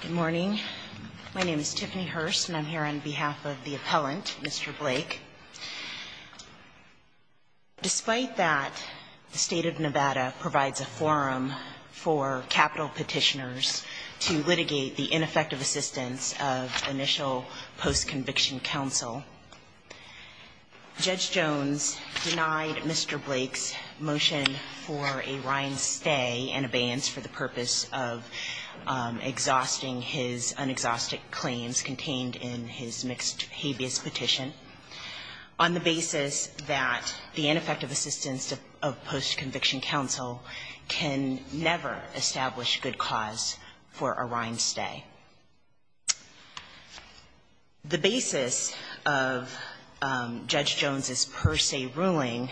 Good morning. My name is Tiffany Hurst and I'm here on behalf of the appellant, Mr. Blake. Despite that, the state of Nevada provides a forum for capital petitioners to litigate the ineffective assistance of initial post-conviction counsel. Judge Jones denied Mr. Blake's motion for a rind stay and abeyance for the purpose of exhausting his unexhaustic claims contained in his mixed habeas petition on the basis that the ineffective assistance of post-conviction counsel can never establish good cause for a rind stay. The basis of Judge Jones's per se ruling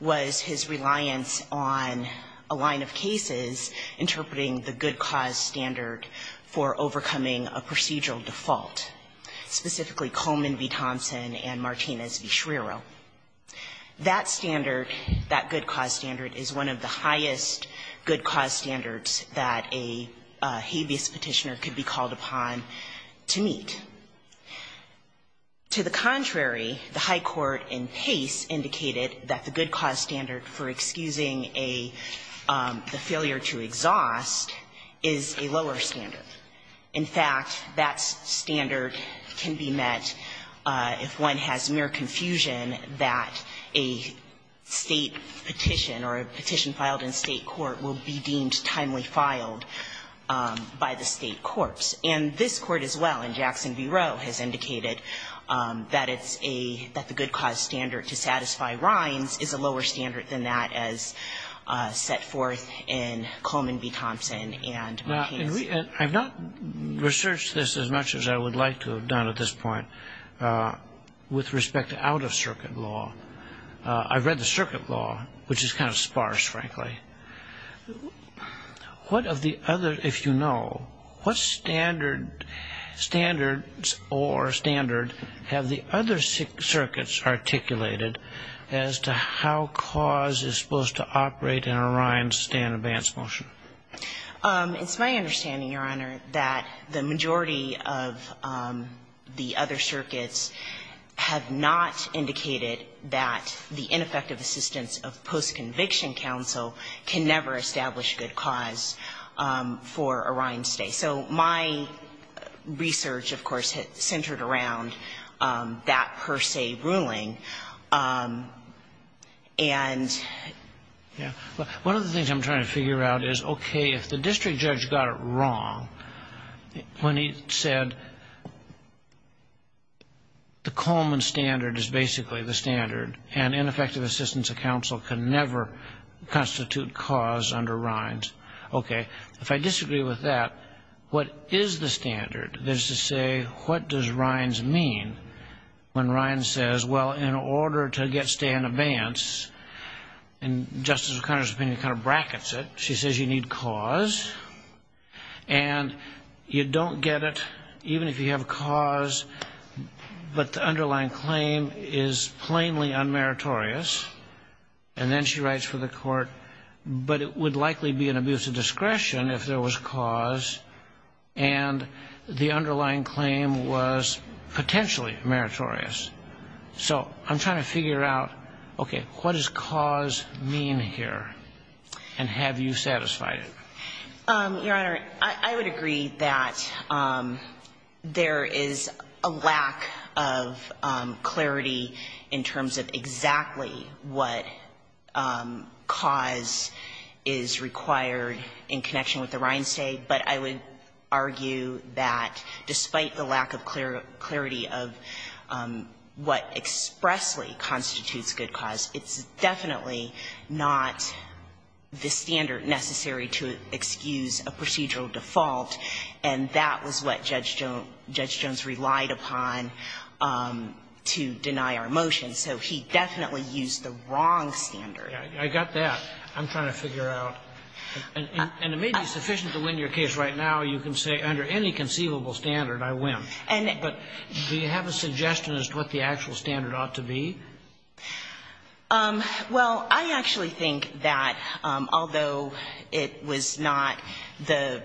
was his reliance on a line of cases interpreting the good cause standard for overcoming a procedural default, specifically Coleman v. Thompson and Martinez v. Schreiro. That standard, that good cause standard, is one of the highest good cause standards that a habeas petitioner could be called upon to meet. To the contrary, the high court in Pace indicated that the good cause standard for excusing a failure to exhaust is a lower standard. In fact, that standard can be met if one has mere confusion that a State petition or a petition filed in State court will be deemed timely filed by the State courts. And this Court as well, in Jackson v. Rowe, has indicated that it's a, that the good cause standard to satisfy rinds is a lower standard than that as set forth in Coleman v. Thompson and Pace. I've not researched this as much as I would like to have done at this point with respect to out-of-circuit law. I've read the circuit law, which is kind of sparse, frankly. What of the other, if you know, what standard, standards or standard have the other circuits articulated as to how cause is supposed to operate in a rind stand-abansed motion? It's my understanding, Your Honor, that the majority of the other circuits have not indicated that the ineffective assistance of post-conviction counsel can never establish good cause for a rind stay. So my research, of course, centered around that per se ruling. And one of the things I'm trying to figure out is, okay, if the district judge got it wrong when he said the Coleman standard is basically the standard and ineffective assistance of counsel can never constitute cause under rinds. Okay. If I disagree with that, what is the standard? That is to say, what does rinds mean when rinds says, well, in order to get stay in advance, and Justice O'Connor's opinion kind of brackets it. She says you need cause, and you don't get it even if you have cause, but the underlying claim is plainly unmeritorious. And then she writes for the court, but it would likely be an abuse of discretion if there was cause, and the underlying claim was potentially meritorious. So I'm trying to figure out, okay, what does cause mean here, and have you satisfied it? Your Honor, I would agree that there is a lack of clarity in terms of exactly what cause is required in connection with the rind stay. But I would argue that despite the lack of clarity of what expressly constitutes good cause, it's definitely not the standard necessary to excuse a procedural default, and that was what Judge Jones relied upon to deny our motion. So he definitely used the wrong standard. I got that. I'm trying to figure out. And it may be sufficient to win your case right now. You can say under any conceivable standard, I win. But do you have a suggestion as to what the actual standard ought to be? Well, I actually think that although it was not the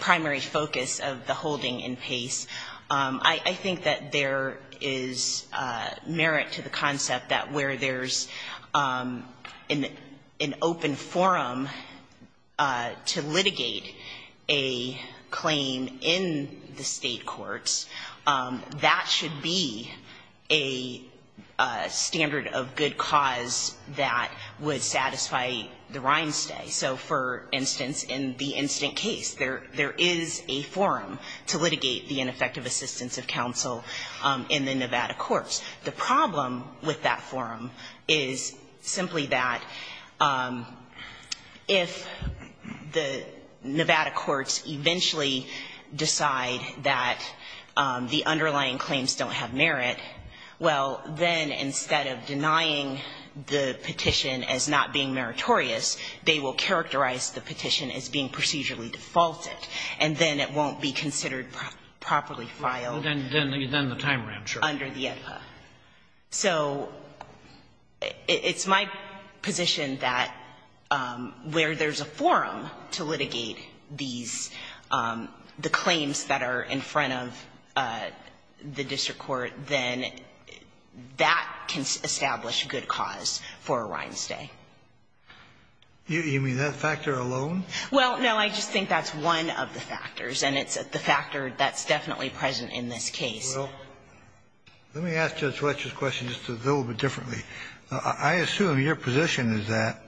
primary focus of the holding in Pace, I think that there is merit to the concept that where there's an open forum to litigate a claim in the state courts, that should be a standard of good cause that would satisfy the rind stay. So, for instance, in the instant case, there is a forum to litigate the ineffective assistance of counsel in the Nevada courts. The problem with that forum is simply that if the Nevada courts eventually decide that the underlying claims don't have merit, well, then instead of denying the petition as not being meritorious, they will characterize the petition as being So it's my position that where there's a forum to litigate these, the claims that are in front of the district court, then that can establish good cause for a rind stay. You mean that factor alone? Well, no. I just think that's one of the factors. And it's the factor that's definitely present in this case. Well, let me ask Judge Fletcher's question just a little bit differently. I assume your position is that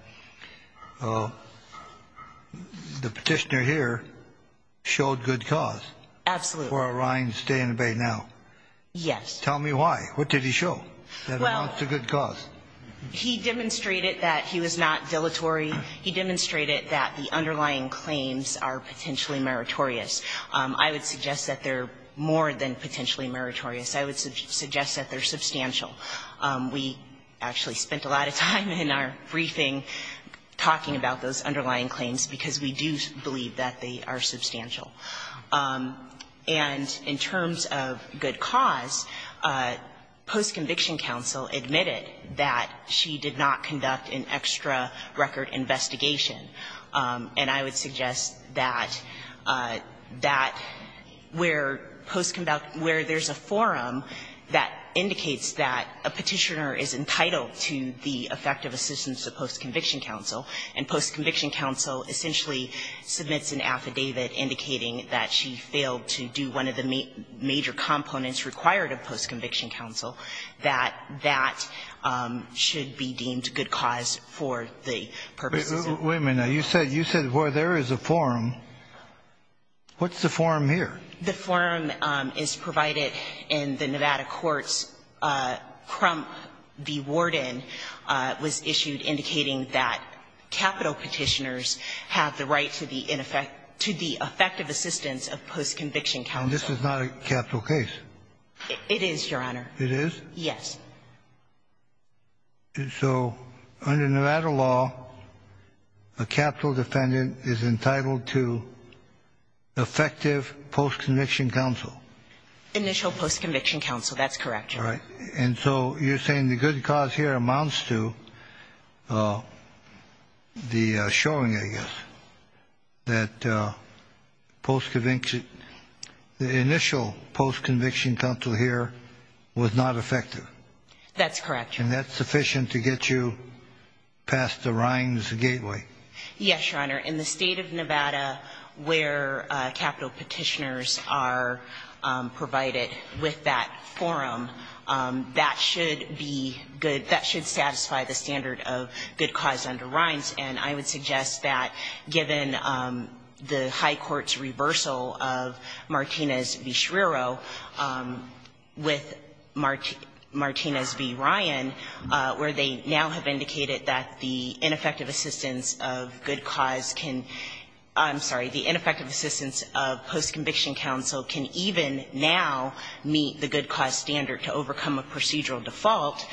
the Petitioner here showed good cause. Absolutely. For a rind stay in the Bay now. Yes. Tell me why. What did he show that amounts to good cause? Well, he demonstrated that he was not dilatory. He demonstrated that the underlying claims are potentially meritorious. I would suggest that they're more than potentially meritorious. I would suggest that they're substantial. We actually spent a lot of time in our briefing talking about those underlying claims because we do believe that they are substantial. And in terms of good cause, post-conviction counsel admitted that she did not conduct an extra record investigation. And I would suggest that that where post-conviction, where there's a forum that indicates that a Petitioner is entitled to the effective assistance of post-conviction counsel, and post-conviction counsel essentially submits an affidavit indicating that she failed to do one of the major components required of post-conviction counsel, that that should be deemed good cause for the purposes of the case. Wait a minute. You said where there is a forum. What's the forum here? The forum is provided in the Nevada courts. Crump v. Worden was issued indicating that capital Petitioners have the right to the effective assistance of post-conviction counsel. And this is not a capital case? It is, Your Honor. It is? Yes. So under Nevada law, a capital defendant is entitled to effective post-conviction counsel? Initial post-conviction counsel. That's correct, Your Honor. All right. And so you're saying the good cause here amounts to the showing, I guess, that post-conviction counsel here was not effective? That's correct, Your Honor. And that's sufficient to get you past the Rhines gateway? Yes, Your Honor. In the State of Nevada where capital Petitioners are provided with that forum, that should be good, that should satisfy the standard of good cause under Rhines. And I would suggest that given the high court's reversal of Martinez v. Schreiro with Martinez v. Ryan, where they now have indicated that the ineffective assistance of good cause can — I'm sorry, the ineffective assistance of post-conviction counsel can even now meet the good cause standard to overcome a procedural default,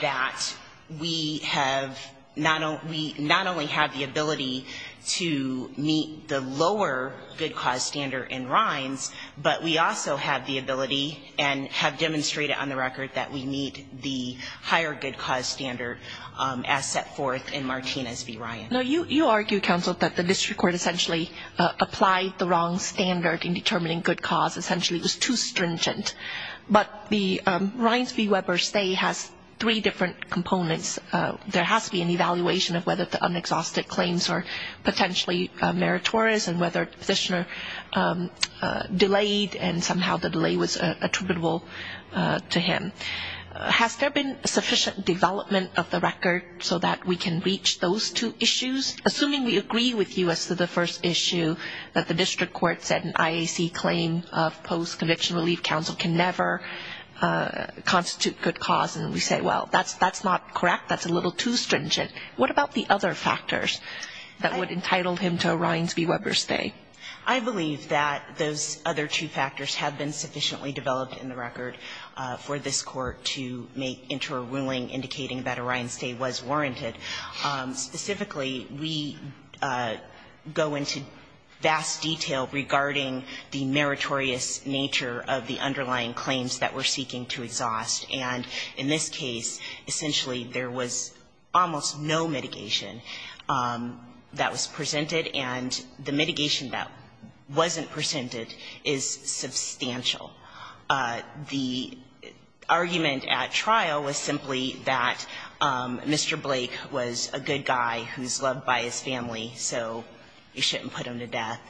that we have not only — we not only have the ability to meet the lower good cause standard in Rhines, but we also have the ability and have demonstrated on the record that we meet the higher good cause standard as set forth in Martinez v. Ryan. Now, you argue, counsel, that the district court essentially applied the wrong standard in determining good cause. Essentially, it was too stringent. But the Rhines v. Weber stay has three different components. There has to be an evaluation of whether the unexhausted claims are potentially meritorious and whether the petitioner delayed and somehow the delay was attributable to him. Has there been sufficient development of the record so that we can reach those two issues? Assuming we agree with you as to the first issue, that the district court said an IAC claim of post-conviction relief counsel can never constitute good cause, and we say, well, that's not correct. That's a little too stringent. What about the other factors that would entitle him to a Rhines v. Weber stay? I believe that those other two factors have been sufficiently developed in the record for this Court to make into a ruling indicating that a Rhines stay was warranted. Specifically, we go into vast detail regarding the meritorious nature of the underlying claims that we're seeking to exhaust, and in this case, essentially, there was almost no mitigation that was presented. And the mitigation that wasn't presented is substantial. The argument at trial was simply that Mr. Blake was a good guy who's loved by his family, so you shouldn't put him to death.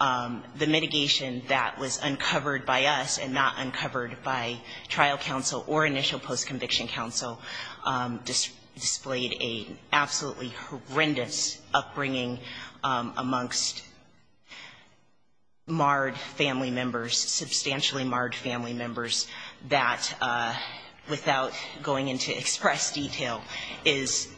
The mitigation that was uncovered by us and not uncovered by trial counsel or initial post-conviction counsel displayed an absolutely horrendous upbringing amongst marred family members, substantially marred family members that, without going into express detail, is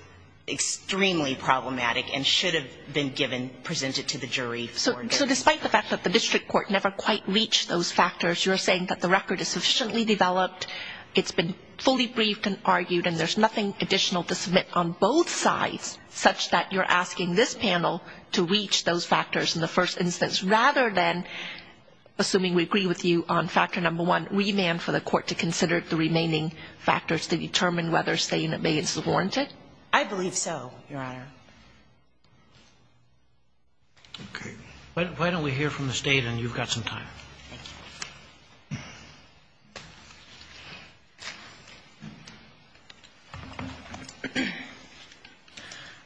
extremely problematic and should have been given, presented to the jury. So despite the fact that the district court never quite reached those factors, you're saying that the record is sufficiently developed, it's been fully briefed and argued, and there's nothing additional to submit on both sides such that you're asking this Court, assuming we agree with you on Factor No. 1, remand for the Court to consider the remaining factors to determine whether a State unit bay is warranted? I believe so, Your Honor. Okay. Why don't we hear from the State, and you've got some time. Thank you.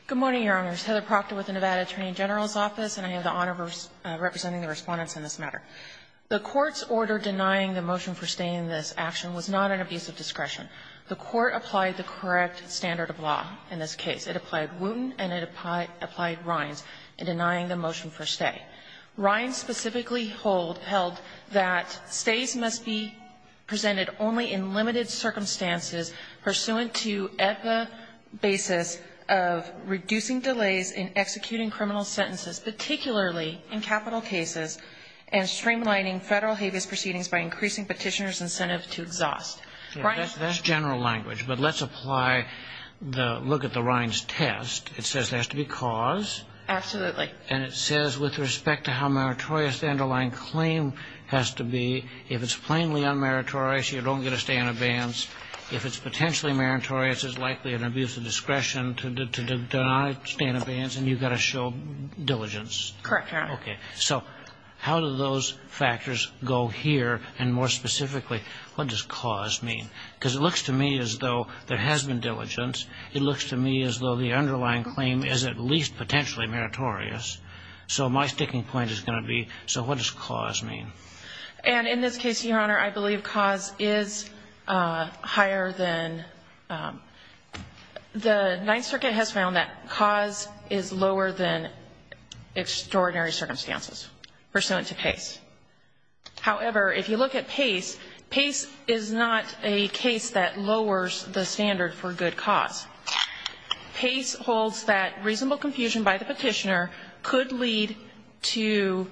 Good morning, Your Honors. Heather Proctor with the Nevada Attorney General's Office, and I have the honor of representing the Respondents in this matter. The Court's order denying the motion for stay in this action was not an abuse of discretion. The Court applied the correct standard of law in this case. It applied Wooten and it applied Rines in denying the motion for stay. Rines specifically held that stays must be presented only in limited circumstances pursuant to EPA basis of reducing delays in executing criminal sentences, particularly in capital cases, and streamlining Federal habeas proceedings by increasing petitioner's incentive to exhaust. That's general language, but let's apply the look at the Rines test. It says there has to be cause. Absolutely. And it says with respect to how meritorious the underlying claim has to be, if it's plainly unmeritorious, you don't get a stay in abeyance. If it's potentially meritorious, it's likely an abuse of discretion to deny stay in abeyance, and you've got to show diligence. Correct, Your Honor. Okay. So how do those factors go here? And more specifically, what does cause mean? Because it looks to me as though there has been diligence. It looks to me as though the underlying claim is at least potentially meritorious. So my sticking point is going to be, so what does cause mean? And in this case, Your Honor, I believe cause is higher than the Ninth Circuit has found that cause is lower than extraordinary circumstances pursuant to Pace. However, if you look at Pace, Pace is not a case that lowers the standard for good cause. Pace holds that reasonable confusion by the petitioner could lead to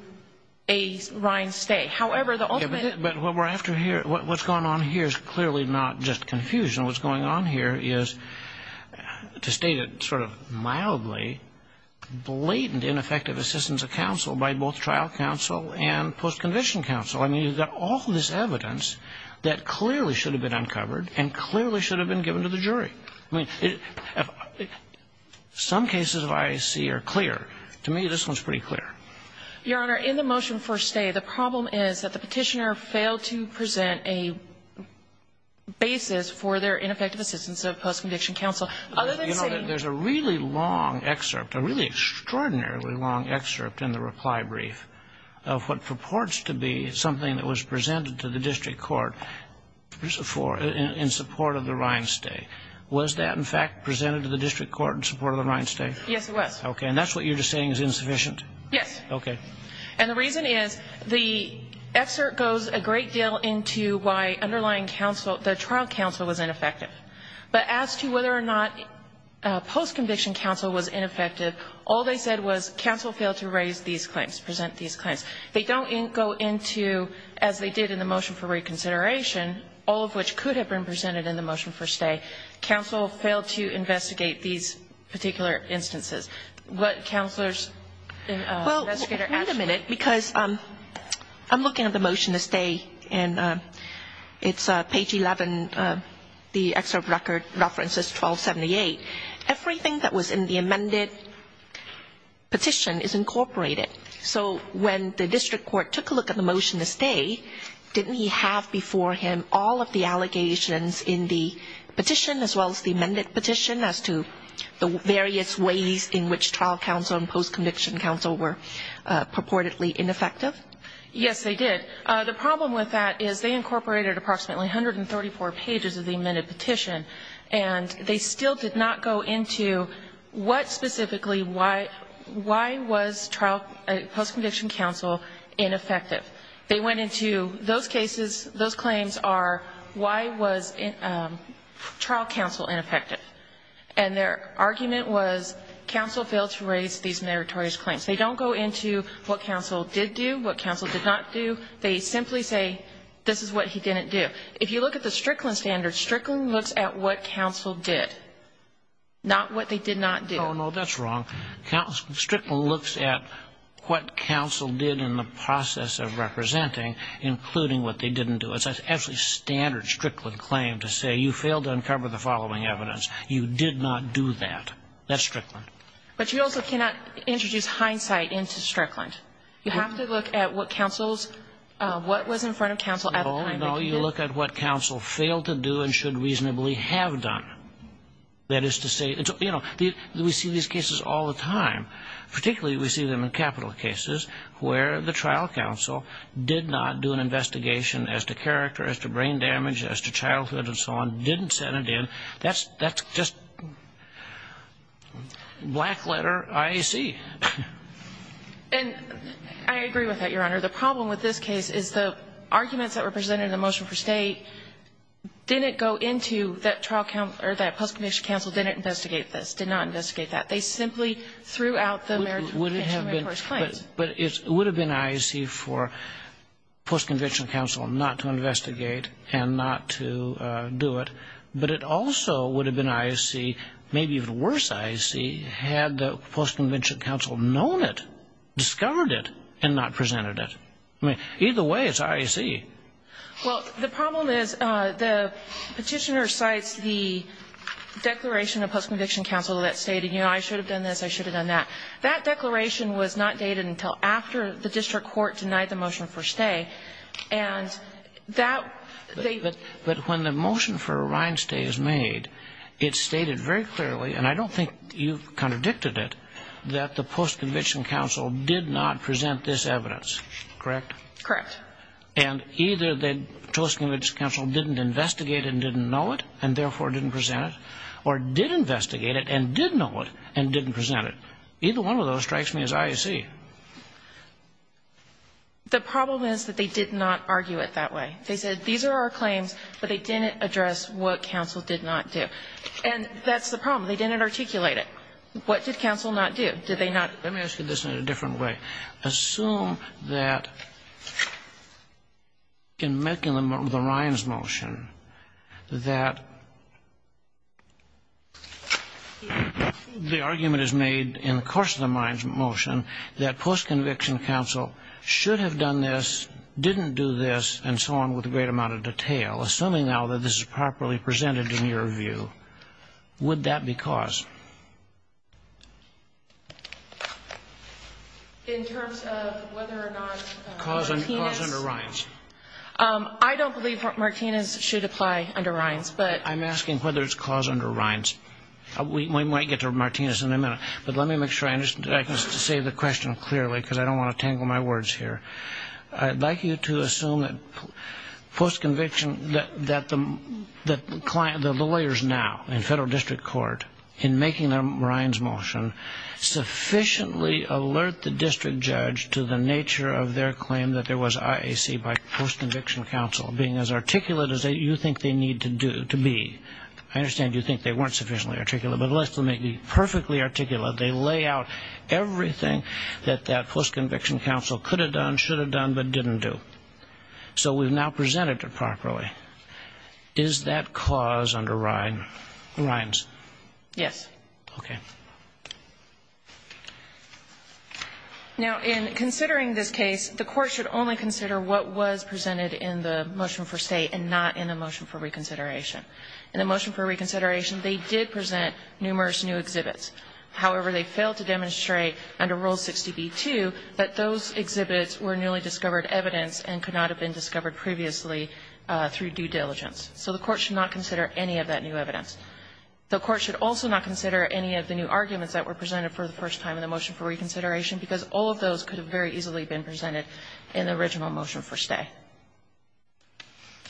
a Rines stay. However, the ultimate But what we're after here, what's going on here is clearly not just confusion. What's going on here is, to state it sort of mildly, blatant ineffective assistance of counsel by both trial counsel and post-conviction counsel. I mean, you've got all this evidence that clearly should have been uncovered and clearly should have been given to the jury. I mean, some cases I see are clear. To me, this one's pretty clear. Your Honor, in the motion for stay, the problem is that the petitioner failed to present a basis for their ineffective assistance of post-conviction counsel. You know, there's a really long excerpt, a really extraordinarily long excerpt in the reply brief of what purports to be something that was presented to the district court in support of the Rines stay. Was that, in fact, presented to the district court in support of the Rines stay? Yes, it was. Okay. And that's what you're just saying is insufficient? Yes. Okay. And the reason is the excerpt goes a great deal into why underlying counsel, the trial counsel was ineffective. But as to whether or not post-conviction counsel was ineffective, all they said was counsel failed to raise these claims, present these claims. They don't go into, as they did in the motion for reconsideration, all of which could have been presented in the motion for stay, counsel failed to investigate these particular instances. Well, wait a minute because I'm looking at the motion to stay, and it's page 11. The excerpt references 1278. Everything that was in the amended petition is incorporated. So when the district court took a look at the motion to stay, didn't he have before him all of the allegations in the petition as well as the amended petition as to the various ways in which trial counsel and post-conviction counsel were purportedly ineffective? Yes, they did. The problem with that is they incorporated approximately 134 pages of the amended petition, and they still did not go into what specifically, why was trial post-conviction counsel ineffective. They went into those cases, those claims are why was trial counsel ineffective. And their argument was counsel failed to raise these meritorious claims. They don't go into what counsel did do, what counsel did not do. They simply say this is what he didn't do. If you look at the Strickland standards, Strickland looks at what counsel did, not what they did not do. Oh, no, that's wrong. Strickland looks at what counsel did in the process of representing, including what they didn't do. It's an absolutely standard Strickland claim to say you failed to uncover the following evidence. You did not do that. That's Strickland. But you also cannot introduce hindsight into Strickland. You have to look at what counsel's, what was in front of counsel at the time. No, you look at what counsel failed to do and should reasonably have done. That is to say, you know, we see these cases all the time, particularly we see them in capital cases where the trial counsel did not do an investigation as to character, as to brain damage, as to childhood and so on, didn't send it in. That's just black letter IAC. And I agree with that, Your Honor. The problem with this case is the arguments that were presented in the motion for State didn't go into that trial counsel, or that post-conviction counsel didn't investigate this, did not investigate that. They simply threw out the American Convention of Marine Corps Claims. But it would have been IAC for post-conviction counsel not to investigate and not to do it. But it also would have been IAC, maybe even worse IAC, had the post-conviction counsel known it, discovered it, and not presented it. Either way, it's IAC. Well, the problem is the Petitioner cites the declaration of post-conviction counsel that stated, you know, I should have done this, I should have done that. That declaration was not dated until after the district court denied the motion for stay. And that they ---- But when the motion for a rind stay is made, it's stated very clearly, and I don't think you've contradicted it, that the post-conviction counsel did not present this evidence. Correct? Correct. And either the post-conviction counsel didn't investigate it and didn't know it, and therefore didn't present it, or did investigate it and did know it and didn't present it. Either one of those strikes me as IAC. The problem is that they did not argue it that way. They said, these are our claims, but they didn't address what counsel did not do. And that's the problem. They didn't articulate it. What did counsel not do? Did they not ---- Let me ask you this in a different way. Assume that in making the rinds motion, that the argument is made in the course of the rinds motion that post-conviction counsel should have done this, didn't do this, and so on, with a great amount of detail. Assuming now that this is properly presented in your view, would that be caused? In terms of whether or not Martinez ---- Caused under rinds. I don't believe Martinez should apply under rinds, but ---- I'm asking whether it's caused under rinds. We might get to Martinez in a minute. But let me make sure I can say the question clearly, because I don't want to tangle my words here. I'd like you to assume that post-conviction, that the lawyers now in federal district court, in making the rinds motion, sufficiently alert the district judge to the nature of their claim that there was IAC by post-conviction counsel, being as articulate as you think they need to be. I understand you think they weren't sufficiently articulate, but at least they may be perfectly articulate. They lay out everything that that post-conviction counsel could have done, should have done, but didn't do. So we've now presented it properly. Is that cause under rinds? Yes. Okay. Now, in considering this case, the court should only consider what was presented in the motion for state and not in the motion for reconsideration. In the motion for reconsideration, they did present numerous new exhibits. However, they failed to demonstrate under Rule 60b-2 that those exhibits were newly discovered evidence and could not have been discovered previously through due diligence. So the court should not consider any of that new evidence. The court should also not consider any of the new arguments that were presented for the first time in the motion for reconsideration, because all of those could have very easily been presented in the original motion for stay.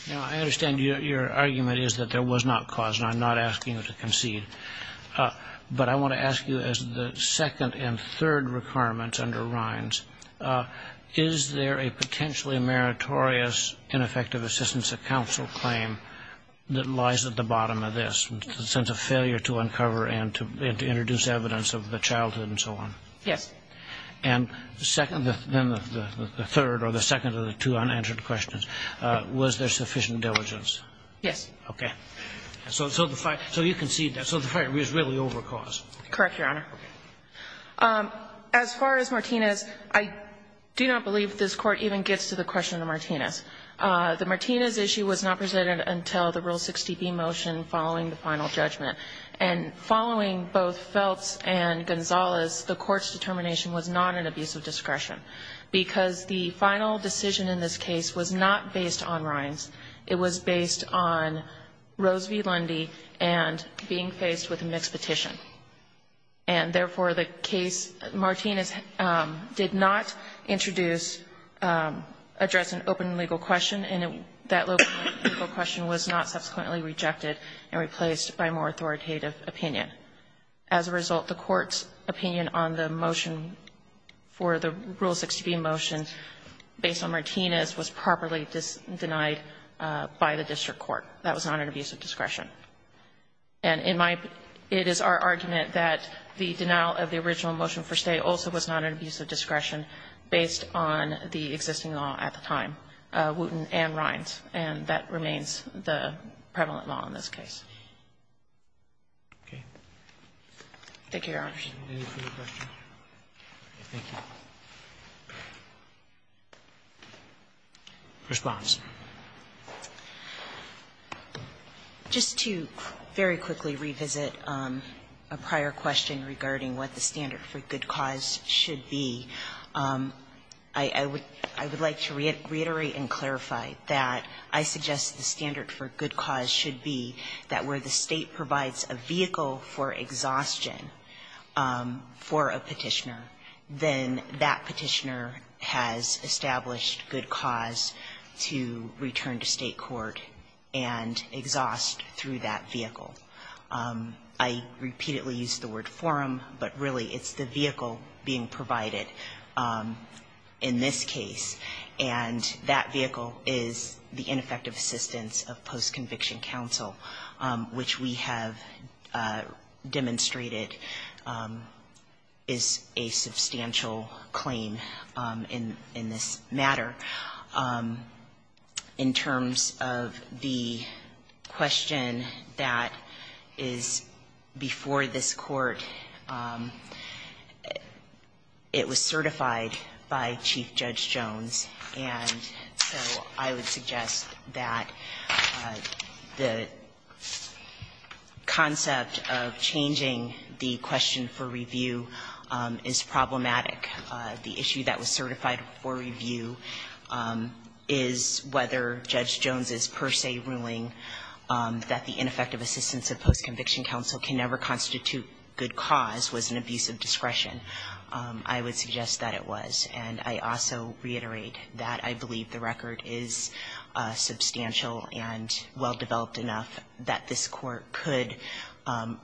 Now, I understand your argument is that there was not cause, and I'm not asking you to concede. But I want to ask you, as the second and third requirements under rinds, is there a potentially meritorious ineffective assistance of counsel claim that lies at the bottom of this, a sense of failure to uncover and to introduce evidence of the childhood and so on? Yes. And the second, then the third, or the second of the two unanswered questions, was there sufficient diligence? Yes. Okay. So you concede that. So the fight was really over cause. Correct, Your Honor. As far as Martinez, I do not believe this Court even gets to the question of the Martinez. The Martinez issue was not presented until the Rule 60b motion following the final judgment. And following both Feltz and Gonzalez, the Court's determination was not an abuse of discretion, because the final decision in this case was not based on rinds. It was based on Rose v. Lundy and being faced with a mixed petition. And therefore, the case Martinez did not introduce, address an open legal question, and that open legal question was not subsequently rejected and replaced by more authoritative opinion. As a result, the Court's opinion on the motion for the Rule 60b motion based on Martinez was properly denied by the district court. That was not an abuse of discretion. And in my opinion, it is our argument that the denial of the original motion for Stay also was not an abuse of discretion based on the existing law at the time, Wooten and rinds, and that remains the prevalent law in this case. Thank you, Your Honor. Roberts. Roberts. Roberts. Roberts. Roberts. Roberts. Roberts. Roberts. Thank you. Response. Just to very quickly revisit a prior question regarding what the standard for good cause should be, I would like to reiterate and clarify that I suggest the standard for good cause should be that where the State provides a vehicle for exhaustion, for a petitioner, then that petitioner has established good cause to return to State court and exhaust through that vehicle. I repeatedly use the word forum, but really it's the vehicle being provided in this case, and that vehicle is the ineffective assistance of post-conviction counsel, which we have demonstrated is a substantial claim in this matter. In terms of the question that is before this Court, it was certified by Chief Judge Jones, and so I would suggest that the concept of changing the question for review is problematic. The issue that was certified for review is whether Judge Jones's per se ruling that the ineffective assistance of post-conviction counsel can never constitute good cause was an abuse of discretion. I would suggest that it was. And I also reiterate that I believe the record is substantial and well-developed enough that this Court could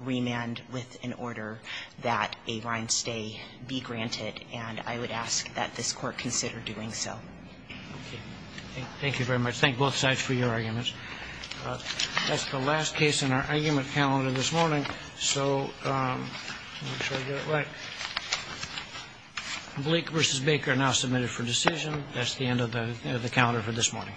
remand with an order that a grind stay be granted, and I would ask that this Court consider doing so. Thank you very much. Thank both sides for your arguments. That's the last case in our argument calendar this morning, so I'll make sure I get it right. Blake v. Baker now submitted for decision. That's the end of the calendar for this morning.